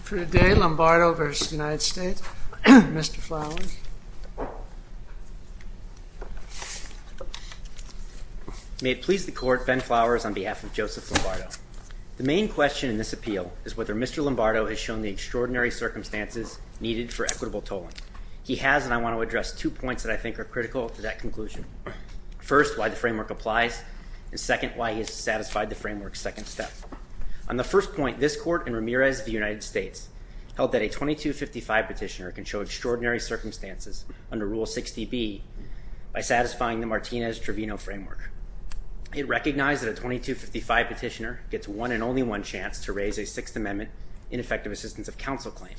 Mr. Flowers. May it please the Court, Ben Flowers on behalf of Joseph Lombardo. The main question in this appeal is whether Mr. Lombardo has shown the extraordinary circumstances needed for equitable tolling. He has, and I want to address two points that I think are critical to that conclusion. First, why the framework applies. And second, why he has satisfied the framework's second step. On the first point, this Court in Ramirez v. United States held that a 2255 petitioner can show extraordinary circumstances under Rule 60B by satisfying the Martinez-Trevino framework. It recognized that a 2255 petitioner gets one and only one chance to raise a Sixth Amendment ineffective assistance of counsel claim.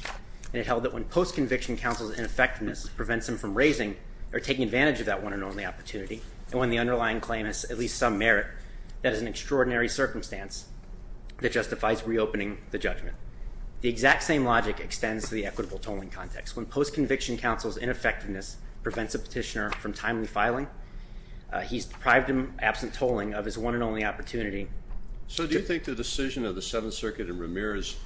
And it held that when post-conviction counsel's ineffectiveness prevents him from raising or taking advantage of that one and only opportunity, and when the underlying claim has at least some merit, that is an extraordinary circumstance that justifies reopening the judgment. The exact same logic extends to the equitable tolling context. When post-conviction counsel's ineffectiveness prevents a petitioner from timely filing, he's deprived him, absent tolling, of his one and only opportunity. So do you think the decision of the Seventh Circuit in Ramirez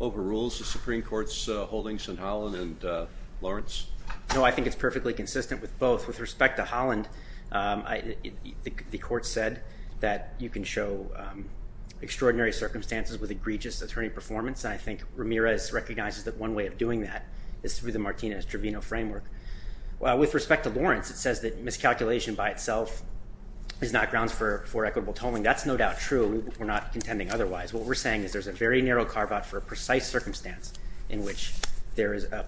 overrules the Supreme Court's holdings in Holland and Lawrence? No, I think it's perfectly consistent with both. With respect to Holland, the Court said that you can show extraordinary circumstances with egregious attorney performance. And I think Ramirez recognizes that one way of doing that is through the Martinez-Trevino framework. With respect to Lawrence, it says that miscalculation by itself is not grounds for equitable tolling. That's no doubt true. We're not contending otherwise. What we're saying is there's a very narrow carve-out for a precise circumstance in which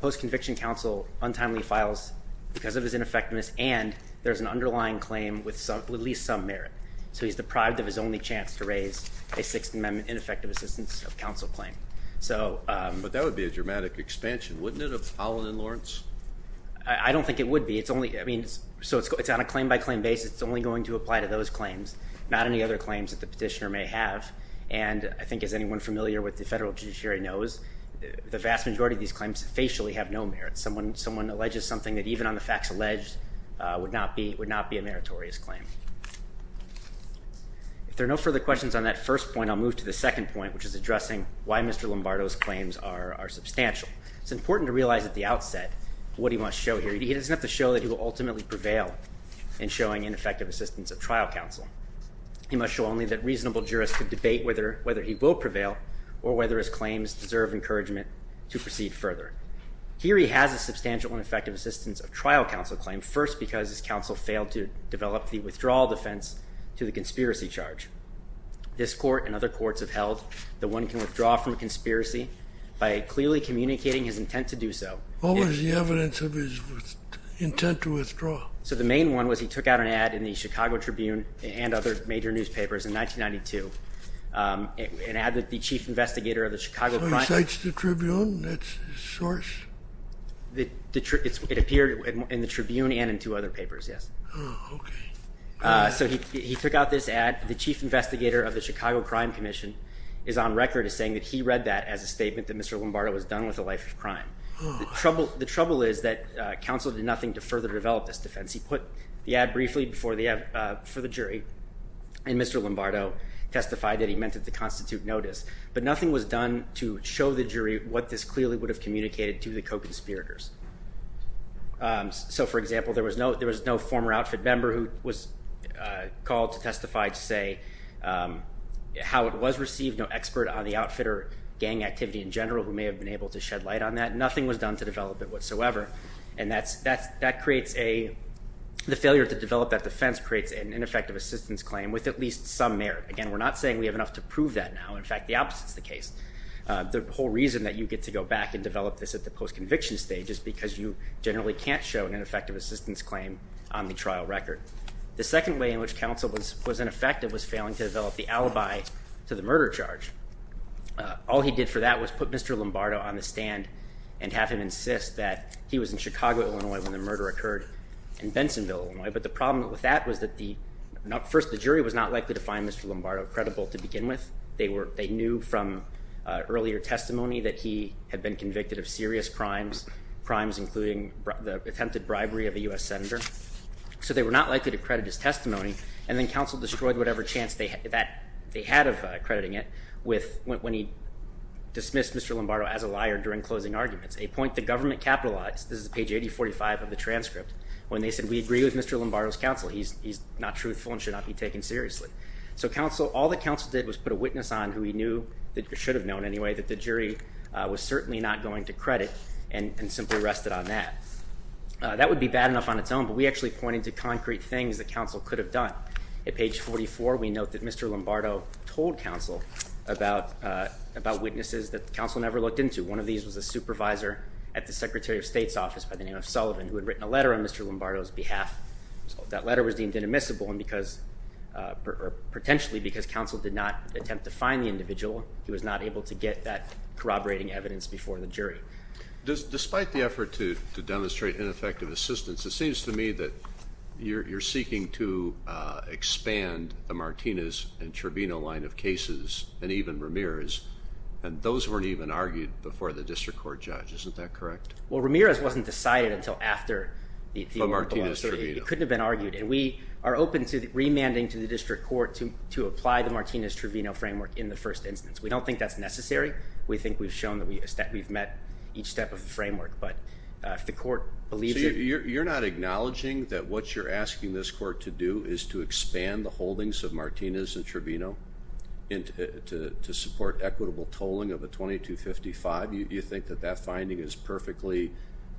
post-conviction counsel untimely files because of his ineffectiveness and there's an underlying claim with at least some merit. So he's deprived of his only chance to raise a Sixth Amendment ineffective assistance of counsel claim. But that would be a dramatic expansion, wouldn't it, of Holland and Lawrence? I don't think it would be. So it's on a claim-by-claim basis. It's only going to apply to those claims, not any other claims that the petitioner may have. And I think, as anyone familiar with the federal judiciary knows, the vast majority of these claims facially have no merit. Someone alleges something that even on the facts alleged would not be a meritorious claim. If there are no further questions on that first point, I'll move to the second point, which is addressing why Mr. Lombardo's claims are substantial. It's important to realize at the outset what he wants to show here. He doesn't have to show that he will ultimately prevail in showing ineffective assistance of trial counsel. He must show only that reasonable jurists could debate whether he will prevail or whether his claims deserve encouragement to proceed further. Here he has a substantial and effective assistance of trial counsel claim, first because his counsel failed to develop the withdrawal defense to the conspiracy charge. This court and other courts have held that one can withdraw from a conspiracy by clearly communicating his intent to do so. What was the evidence of his intent to withdraw? So the main one was he took out an ad in the Chicago Tribune and other major newspapers in 1992, an ad that the chief investigator of the Chicago Crime Commission. So he cites the Tribune? That's his source? It appeared in the Tribune and in two other papers, yes. Oh, okay. So he took out this ad. The chief investigator of the Chicago Crime Commission is on record as saying that he read that as a statement that Mr. Lombardo was done with a life of crime. The trouble is that counsel did nothing to further develop this defense. He put the ad briefly before the jury, and Mr. Lombardo testified that he meant it to constitute notice, but nothing was done to show the jury what this clearly would have communicated to the co-conspirators. So, for example, there was no former outfit member who was called to testify to say how it was received, no expert on the outfitter gang activity in general who may have been able to shed light on that. Nothing was done to develop it whatsoever, and that creates a – the failure to develop that defense creates an ineffective assistance claim with at least some merit. Again, we're not saying we have enough to prove that now. In fact, the opposite is the case. The whole reason that you get to go back and develop this at the post-conviction stage is because you generally can't show an ineffective assistance claim on the trial record. The second way in which counsel was ineffective was failing to develop the alibi to the murder charge. All he did for that was put Mr. Lombardo on the stand and have him insist that he was in Chicago, Illinois, when the murder occurred in Bensonville, Illinois. But the problem with that was that the – first, the jury was not likely to find Mr. Lombardo credible to begin with. They knew from earlier testimony that he had been convicted of serious crimes, crimes including the attempted bribery of a U.S. senator. So they were not likely to credit his testimony, and then counsel destroyed whatever chance they had of crediting it with – when he dismissed Mr. Lombardo as a liar during closing arguments, a point the government capitalized – this is page 8045 of the transcript – when they said, we agree with Mr. Lombardo's counsel. He's not truthful and should not be taken seriously. So counsel – all that counsel did was put a witness on who he knew, that should have known anyway, that the jury was certainly not going to credit and simply rested on that. That would be bad enough on its own, but we actually pointed to concrete things that counsel could have done. At page 44, we note that Mr. Lombardo told counsel about witnesses that counsel never looked into. One of these was a supervisor at the Secretary of State's office by the name of Sullivan, who had written a letter on Mr. Lombardo's behalf. That letter was deemed inadmissible because – or potentially because counsel did not attempt to find the individual. He was not able to get that corroborating evidence before the jury. Despite the effort to demonstrate ineffective assistance, it seems to me that you're seeking to expand the Martinez and Truvino line of cases and even Ramirez, and those weren't even argued before the district court judge. Isn't that correct? Well, Ramirez wasn't decided until after the – But Martinez-Truvino. It couldn't have been argued, and we are open to remanding to the district court to apply the Martinez-Truvino framework in the first instance. We don't think that's necessary. We think we've shown that we've met each step of the framework, but if the court believes it – So you're not acknowledging that what you're asking this court to do is to expand the holdings of Martinez and Truvino to support equitable tolling of a 2255? You think that that finding is perfectly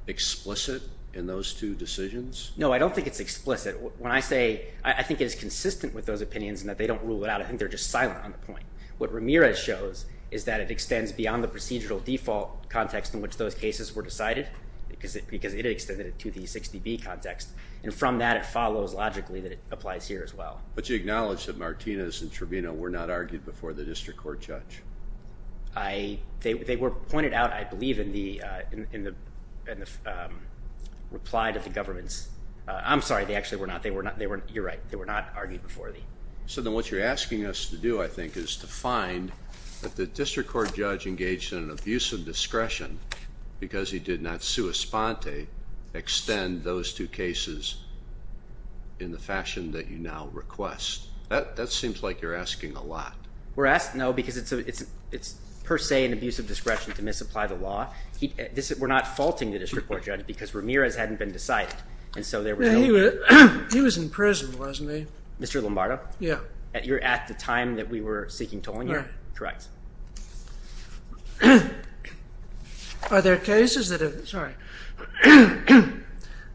explicit in those two decisions? No, I don't think it's explicit. When I say I think it is consistent with those opinions and that they don't rule it out, I think they're just silent on the point. What Ramirez shows is that it extends beyond the procedural default context in which those cases were decided because it extended it to the 60B context, and from that it follows logically that it applies here as well. But you acknowledge that Martinez and Truvino were not argued before the district court judge? They were pointed out, I believe, in the reply to the government's – I'm sorry, they actually were not. You're right. They were not argued before the – So then what you're asking us to do, I think, is to find that the district court judge engaged in an abuse of discretion because he did not sua sponte extend those two cases in the fashion that you now request. That seems like you're asking a lot. No, because it's per se an abuse of discretion to misapply the law. We're not faulting the district court judge because Ramirez hadn't been decided. He was in prison, wasn't he? Mr. Lombardo? Yeah. You're at the time that we were seeking tolling you? Yeah. Correct. Are there cases that have – sorry –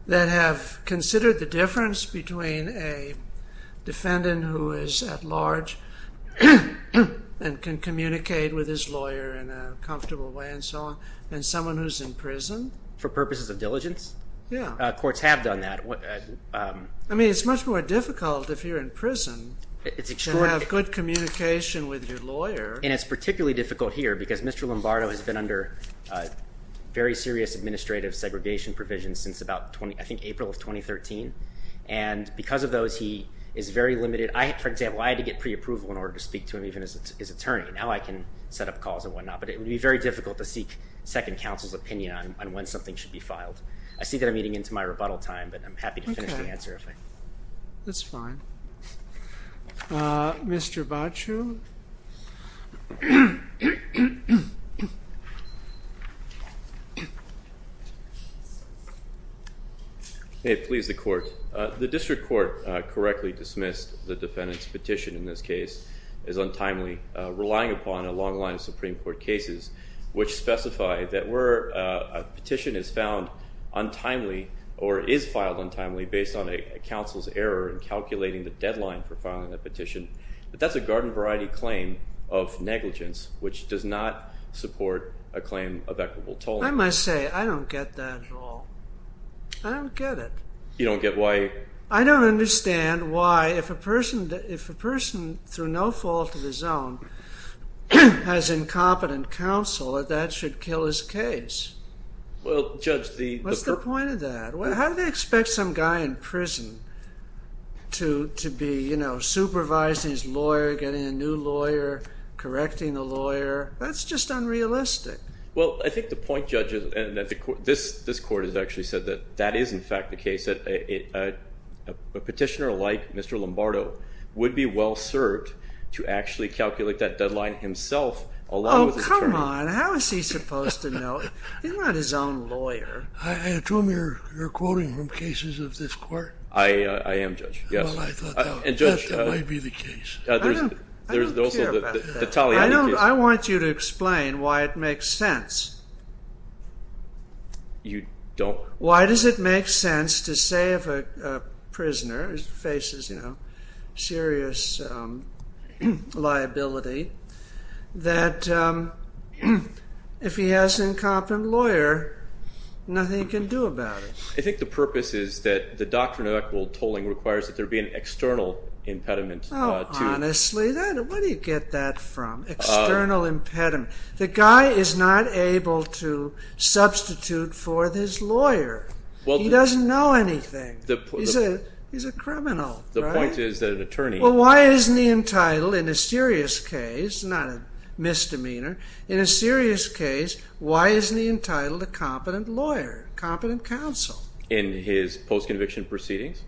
that have considered the difference between a defendant who is at large and can communicate with his lawyer in a comfortable way and so on and someone who's in prison? For purposes of diligence? Yeah. Courts have done that. I mean, it's much more difficult if you're in prison to have good communication with your lawyer. And it's particularly difficult here because Mr. Lombardo has been under very serious administrative segregation provisions since about, I think, April of 2013, and because of those, he is very limited. For example, I had to get preapproval in order to speak to him, even his attorney. Now I can set up calls and whatnot, but it would be very difficult to seek second counsel's opinion on when something should be filed. I see that I'm eating into my rebuttal time, but I'm happy to finish the answer. Okay. That's fine. Mr. Baciu? May it please the Court. The district court correctly dismissed the defendant's petition in this case as untimely, relying upon a long line of Supreme Court cases which specify that where a petition is found untimely or is filed untimely based on a counsel's error in calculating the deadline for filing a petition, that that's a garden variety claim of negligence, which does not support a claim of equitable tolling. I must say, I don't get that at all. I don't get it. You don't get why? I don't understand why, if a person, through no fault of his own, has incompetent counsel, that that should kill his case. Well, Judge, the... What's the point of that? How do they expect some guy in prison to be, you know, supervising his lawyer, getting a new lawyer, correcting the lawyer? That's just unrealistic. Well, I think the point, Judge, and this Court has actually said that that is in fact the case, that a petitioner like Mr. Lombardo would be well served to actually calculate that deadline himself along with his attorney. Oh, come on. How is he supposed to know? He's not his own lawyer. I assume you're quoting from cases of this Court? I am, Judge, yes. Well, I thought that might be the case. I don't care about that. I want you to explain why it makes sense. You don't... Why does it make sense to say if a prisoner faces, you know, serious liability, that if he has an incompetent lawyer, nothing he can do about it? I think the purpose is that the doctrine of equitable tolling requires that there be an external impediment to... Honestly, where do you get that from, external impediment? The guy is not able to substitute for his lawyer. He doesn't know anything. He's a criminal, right? The point is that an attorney... Well, why isn't he entitled in a serious case, not a misdemeanor, in a serious case, why isn't he entitled a competent lawyer, competent counsel? In his post-conviction proceedings?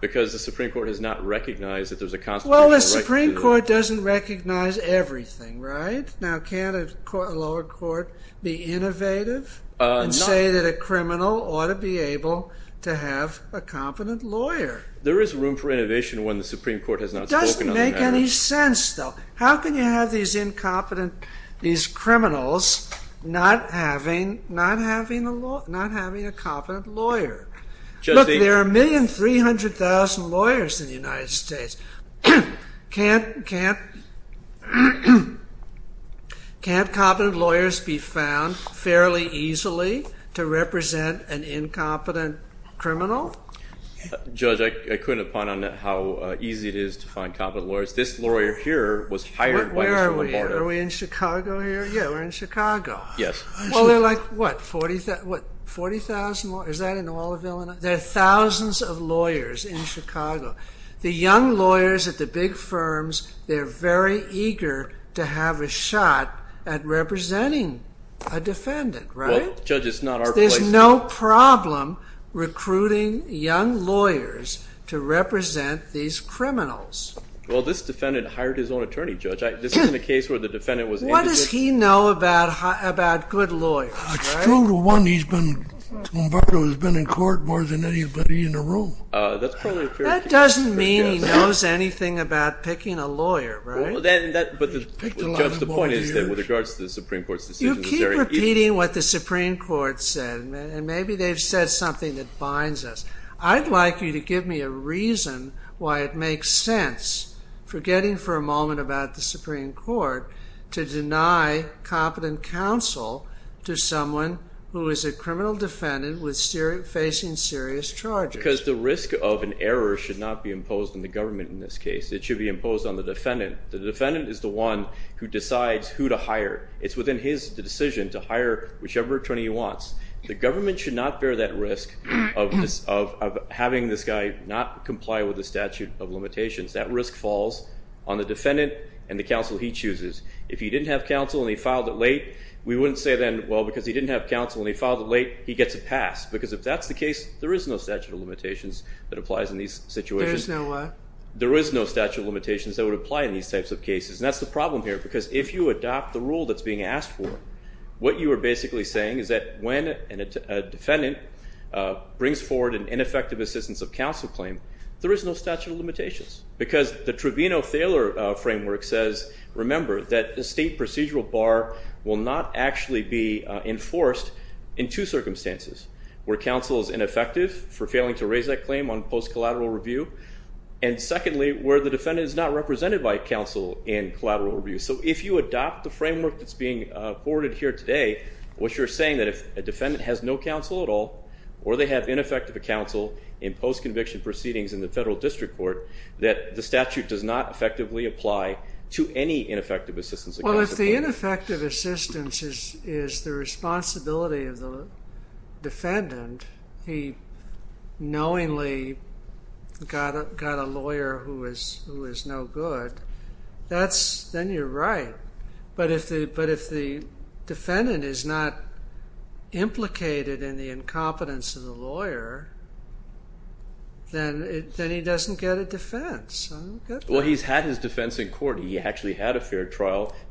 Because the Supreme Court has not recognized that there's a constitutional right... Well, the Supreme Court doesn't recognize everything, right? Now, can't a lower court be innovative and say that a criminal ought to be able to have a competent lawyer? There is room for innovation when the Supreme Court has not spoken on that. It doesn't make any sense, though. How can you have these incompetent, these criminals, not having a competent lawyer? Look, there are 1,300,000 lawyers in the United States. Can't competent lawyers be found fairly easily to represent an incompetent criminal? Judge, I couldn't point on how easy it is to find competent lawyers. This lawyer here was hired by the Supreme Court. Where are we? Are we in Chicago here? Yeah, we're in Chicago. Yes. Well, they're like, what, 40,000 lawyers? Is that in all of Illinois? There are thousands of lawyers in Chicago. The young lawyers at the big firms, they're very eager to have a shot at representing a defendant, right? Well, Judge, it's not our place to... There's no problem recruiting young lawyers to represent these criminals. Well, this defendant hired his own attorney, Judge. This isn't a case where the defendant was... What does he know about good lawyers, right? It's true to one, he's been in court more than anybody in the room. That doesn't mean he knows anything about picking a lawyer, right? But, Judge, the point is that with regards to the Supreme Court's decision... You keep repeating what the Supreme Court said, and maybe they've said something that binds us. I'd like you to give me a reason why it makes sense, forgetting for a moment about the Supreme Court, to deny competent counsel to someone who is a criminal defendant facing serious charges. Because the risk of an error should not be imposed on the government in this case. It should be imposed on the defendant. The defendant is the one who decides who to hire. It's within his decision to hire whichever attorney he wants. The government should not bear that risk of having this guy not comply with the statute of limitations. That risk falls on the defendant and the counsel he chooses. If he didn't have counsel and he filed it late, we wouldn't say then, well, because he didn't have counsel and he filed it late, he gets a pass. Because if that's the case, there is no statute of limitations that applies in these situations. There is no what? There is no statute of limitations that would apply in these types of cases. And that's the problem here, because if you adopt the rule that's being asked for, what you are basically saying is that when a defendant brings forward an ineffective assistance of counsel claim, there is no statute of limitations. Because the Trevino-Thaler framework says, remember, that a state procedural bar will not actually be enforced in two circumstances. Where counsel is ineffective for failing to raise that claim on post-collateral review, and secondly, where the defendant is not represented by counsel in collateral review. So if you adopt the framework that's being forwarded here today, what you're saying is that if a defendant has no counsel at all, or they have ineffective counsel in post-conviction proceedings in the federal district court, that the statute does not effectively apply to any ineffective assistance of counsel. Well, if the ineffective assistance is the responsibility of the defendant, he knowingly got a lawyer who is no good, then you're right. But if the defendant is not implicated in the incompetence of the lawyer, then he doesn't get a defense.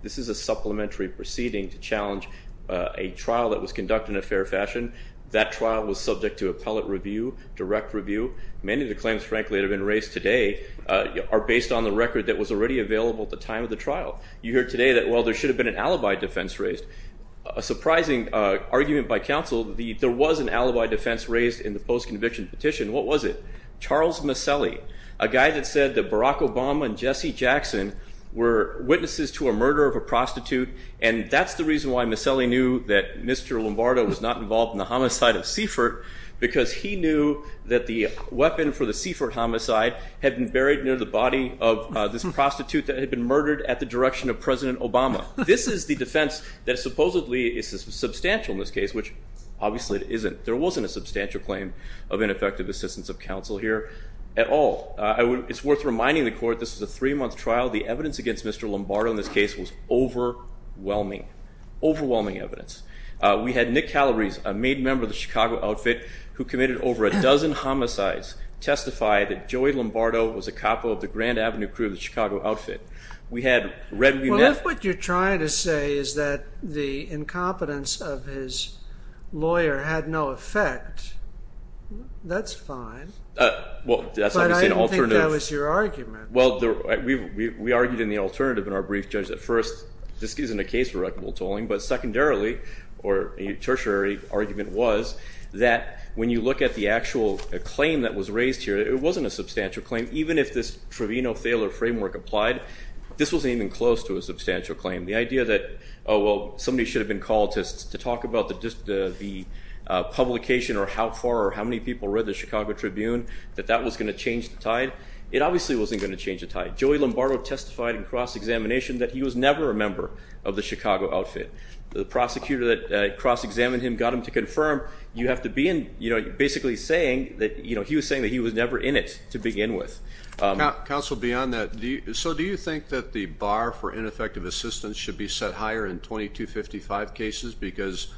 This is a supplementary proceeding to challenge a trial that was conducted in a fair fashion. That trial was subject to appellate review, direct review. Many of the claims, frankly, that have been raised today are based on the record that was already available at the time of the trial. You hear today that, well, there should have been an alibi defense raised. A surprising argument by counsel, there was an alibi defense raised in the post-conviction petition. What was it? Charles Maselli, a guy that said that Barack Obama and Jesse Jackson were witnesses to a murder of a prostitute, and that's the reason why Maselli knew that Mr. Lombardo was not involved in the homicide of Seifert, because he knew that the weapon for the Seifert homicide had been buried near the body of this prostitute that had been murdered at the direction of President Obama. This is the defense that supposedly is substantial in this case, which obviously it isn't. There wasn't a substantial claim of ineffective assistance of counsel here at all. It's worth reminding the court this is a three-month trial. The evidence against Mr. Lombardo in this case was overwhelming, overwhelming evidence. We had Nick Calabrese, a main member of the Chicago Outfit, who committed over a dozen homicides, testify that Joey Lombardo was a capo of the Grand Avenue crew of the Chicago Outfit. We had Redmune— Well, if what you're trying to say is that the incompetence of his lawyer had no effect, that's fine. But I didn't think that was your argument. Well, we argued in the alternative in our brief, Judge, that first this isn't a case for reckonable tolling, but secondarily or a tertiary argument was that when you look at the actual claim that was raised here, it wasn't a substantial claim. Even if this Trevino-Thaler framework applied, this wasn't even close to a substantial claim. The idea that, oh, well, somebody should have been called to talk about the publication or how far or how many people read the Chicago Tribune, that that was going to change the tide, it obviously wasn't going to change the tide. Joey Lombardo testified in cross-examination that he was never a member of the Chicago Outfit. The prosecutor that cross-examined him got him to confirm you have to be in— Counsel, beyond that, so do you think that the bar for ineffective assistance should be set higher in 2255 cases because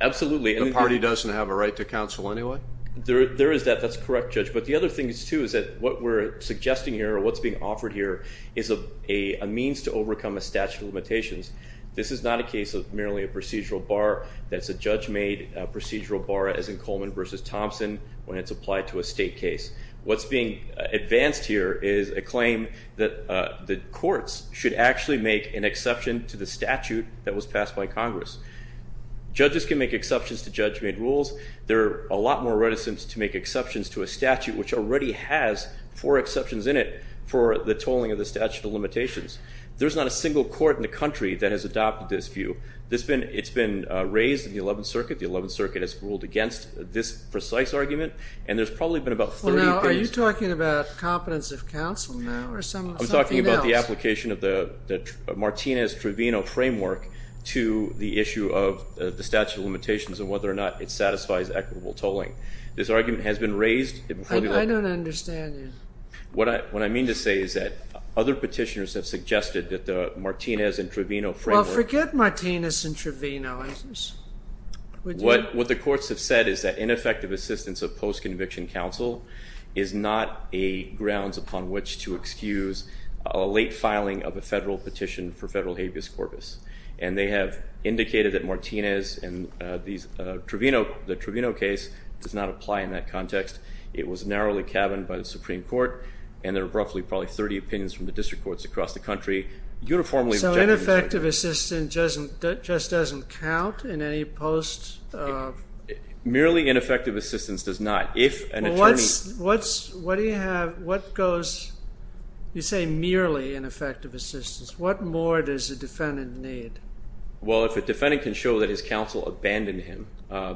the party doesn't have a right to counsel anyway? There is that. That's correct, Judge. But the other thing, too, is that what we're suggesting here or what's being offered here is a means to overcome a statute of limitations. This is not a case of merely a procedural bar. That's a judge-made procedural bar as in Coleman v. Thompson when it's applied to a state case. What's being advanced here is a claim that the courts should actually make an exception to the statute that was passed by Congress. Judges can make exceptions to judge-made rules. There are a lot more reticence to make exceptions to a statute which already has four exceptions in it for the tolling of the statute of limitations. There's not a single court in the country that has adopted this view. It's been raised in the Eleventh Circuit. The Eleventh Circuit has ruled against this precise argument, and there's probably been about 30 cases. Are you talking about competence of counsel now or something else? I'm talking about the application of the Martinez-Trovino framework to the issue of the statute of limitations and whether or not it satisfies equitable tolling. This argument has been raised. I don't understand you. What I mean to say is that other petitioners have suggested that the Martinez and Trovino framework. Well, forget Martinez and Trovino. What the courts have said is that ineffective assistance of post-conviction counsel is not a grounds upon which to excuse a late filing of a federal petition for federal habeas corpus, and they have indicated that Martinez and the Trovino case does not apply in that context. It was narrowly cabined by the Supreme Court, and there are roughly probably 30 opinions from the district courts across the country uniformly. So ineffective assistance just doesn't count in any post? Merely ineffective assistance does not. If an attorney. What goes, you say merely ineffective assistance. What more does a defendant need? Well, if a defendant can show that his counsel abandoned him,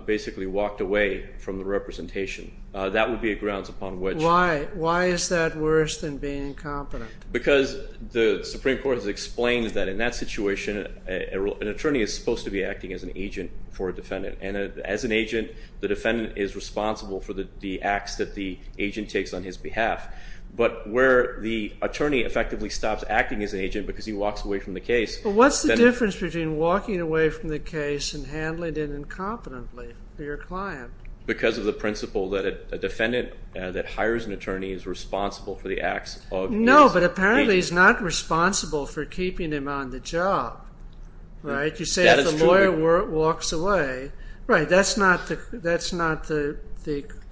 basically walked away from the representation, that would be a grounds upon which. Why? Why is that worse than being incompetent? Because the Supreme Court has explained that in that situation, an attorney is supposed to be acting as an agent for a defendant, and as an agent, the defendant is responsible for the acts that the agent takes on his behalf. But where the attorney effectively stops acting as an agent because he walks away from the case. Well, what's the difference between walking away from the case and handling it incompetently for your client? Because of the principle that a defendant that hires an attorney is responsible for the acts of. No, but apparently he's not responsible for keeping him on the job. You say if the lawyer walks away. Right, that's not the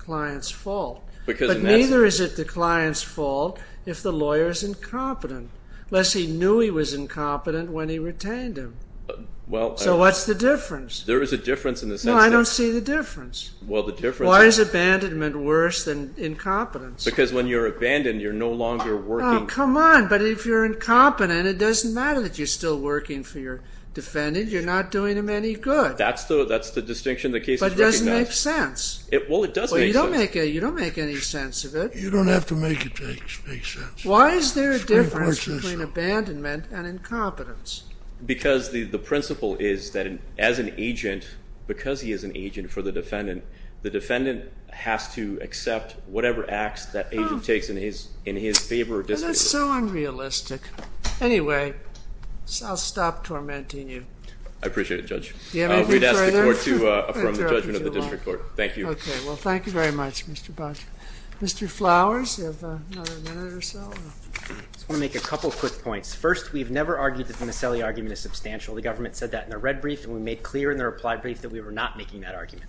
client's fault. But neither is it the client's fault if the lawyer is incompetent. Unless he knew he was incompetent when he retained him. So what's the difference? There is a difference in the sense that. No, I don't see the difference. Why is abandonment worse than incompetence? Because when you're abandoned, you're no longer working. Oh, come on. But if you're incompetent, it doesn't matter that you're still working for your defendant. You're not doing him any good. That's the distinction the case recognizes. But it doesn't make sense. Well, it does make sense. Well, you don't make any sense of it. You don't have to make it make sense. Why is there a difference between abandonment and incompetence? Because the principle is that as an agent, because he is an agent for the defendant, the defendant has to accept whatever acts that agent takes in his favor or disfavor. That's so unrealistic. Anyway, I'll stop tormenting you. I appreciate it, Judge. Do you have anything further? We'd ask the Court to affirm the judgment of the district court. Thank you. Okay. Well, thank you very much, Mr. Boucher. Mr. Flowers, you have another minute or so? I just want to make a couple quick points. First, we've never argued that the Miscellany argument is substantial. The government said that in their red brief, and we made clear in their reply brief that we were not making that argument.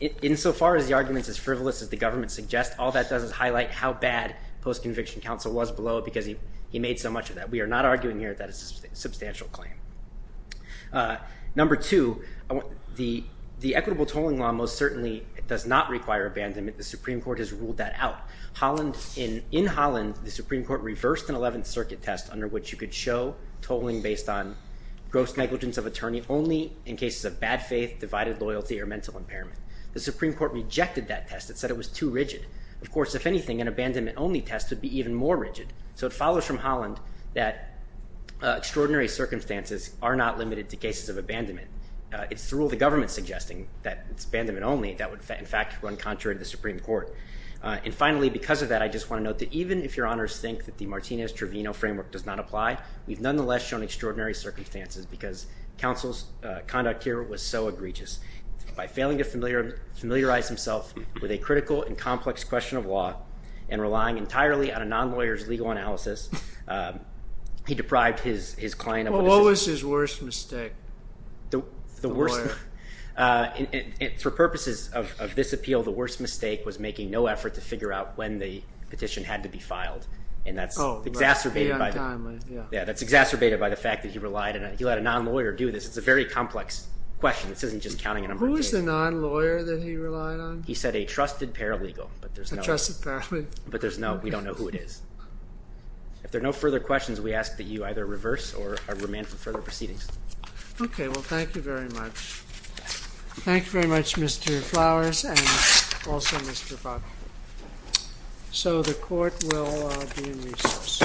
Insofar as the argument is as frivolous as the government suggests, all that does is highlight how bad post-conviction counsel was below it because he made so much of that. We are not arguing here that it's a substantial claim. Number two, the equitable tolling law most certainly does not require abandonment. The Supreme Court has ruled that out. In Holland, the Supreme Court reversed an 11th Circuit test under which you could show tolling based on gross negligence of attorney only in cases of bad faith, divided loyalty, or mental impairment. The Supreme Court rejected that test. It said it was too rigid. Of course, if anything, an abandonment-only test would be even more rigid. So it follows from Holland that extraordinary circumstances are not limited to cases of abandonment. It's through the government suggesting that it's abandonment only that would, in fact, run contrary to the Supreme Court. And finally, because of that, I just want to note that even if Your Honors think that the Martinez-Trevino framework does not apply, we've nonetheless shown extraordinary circumstances because counsel's conduct here was so egregious. By failing to familiarize himself with a critical and complex question of law and relying entirely on a non-lawyer's legal analysis, he deprived his client of what he should have. Well, what was his worst mistake? For purposes of this appeal, the worst mistake was making no effort to figure out when the petition had to be filed, and that's exacerbated by the fact that he relied on it. He let a non-lawyer do this. It's a very complex question. This isn't just counting a number of cases. Who is the non-lawyer that he relied on? He said a trusted paralegal, but there's no— A trusted paralegal. But there's no—we don't know who it is. If there are no further questions, we ask that you either reverse or remain for further proceedings. Okay, well, thank you very much. Thank you very much, Mr. Flowers and also Mr. Buck. So the court will be in recess.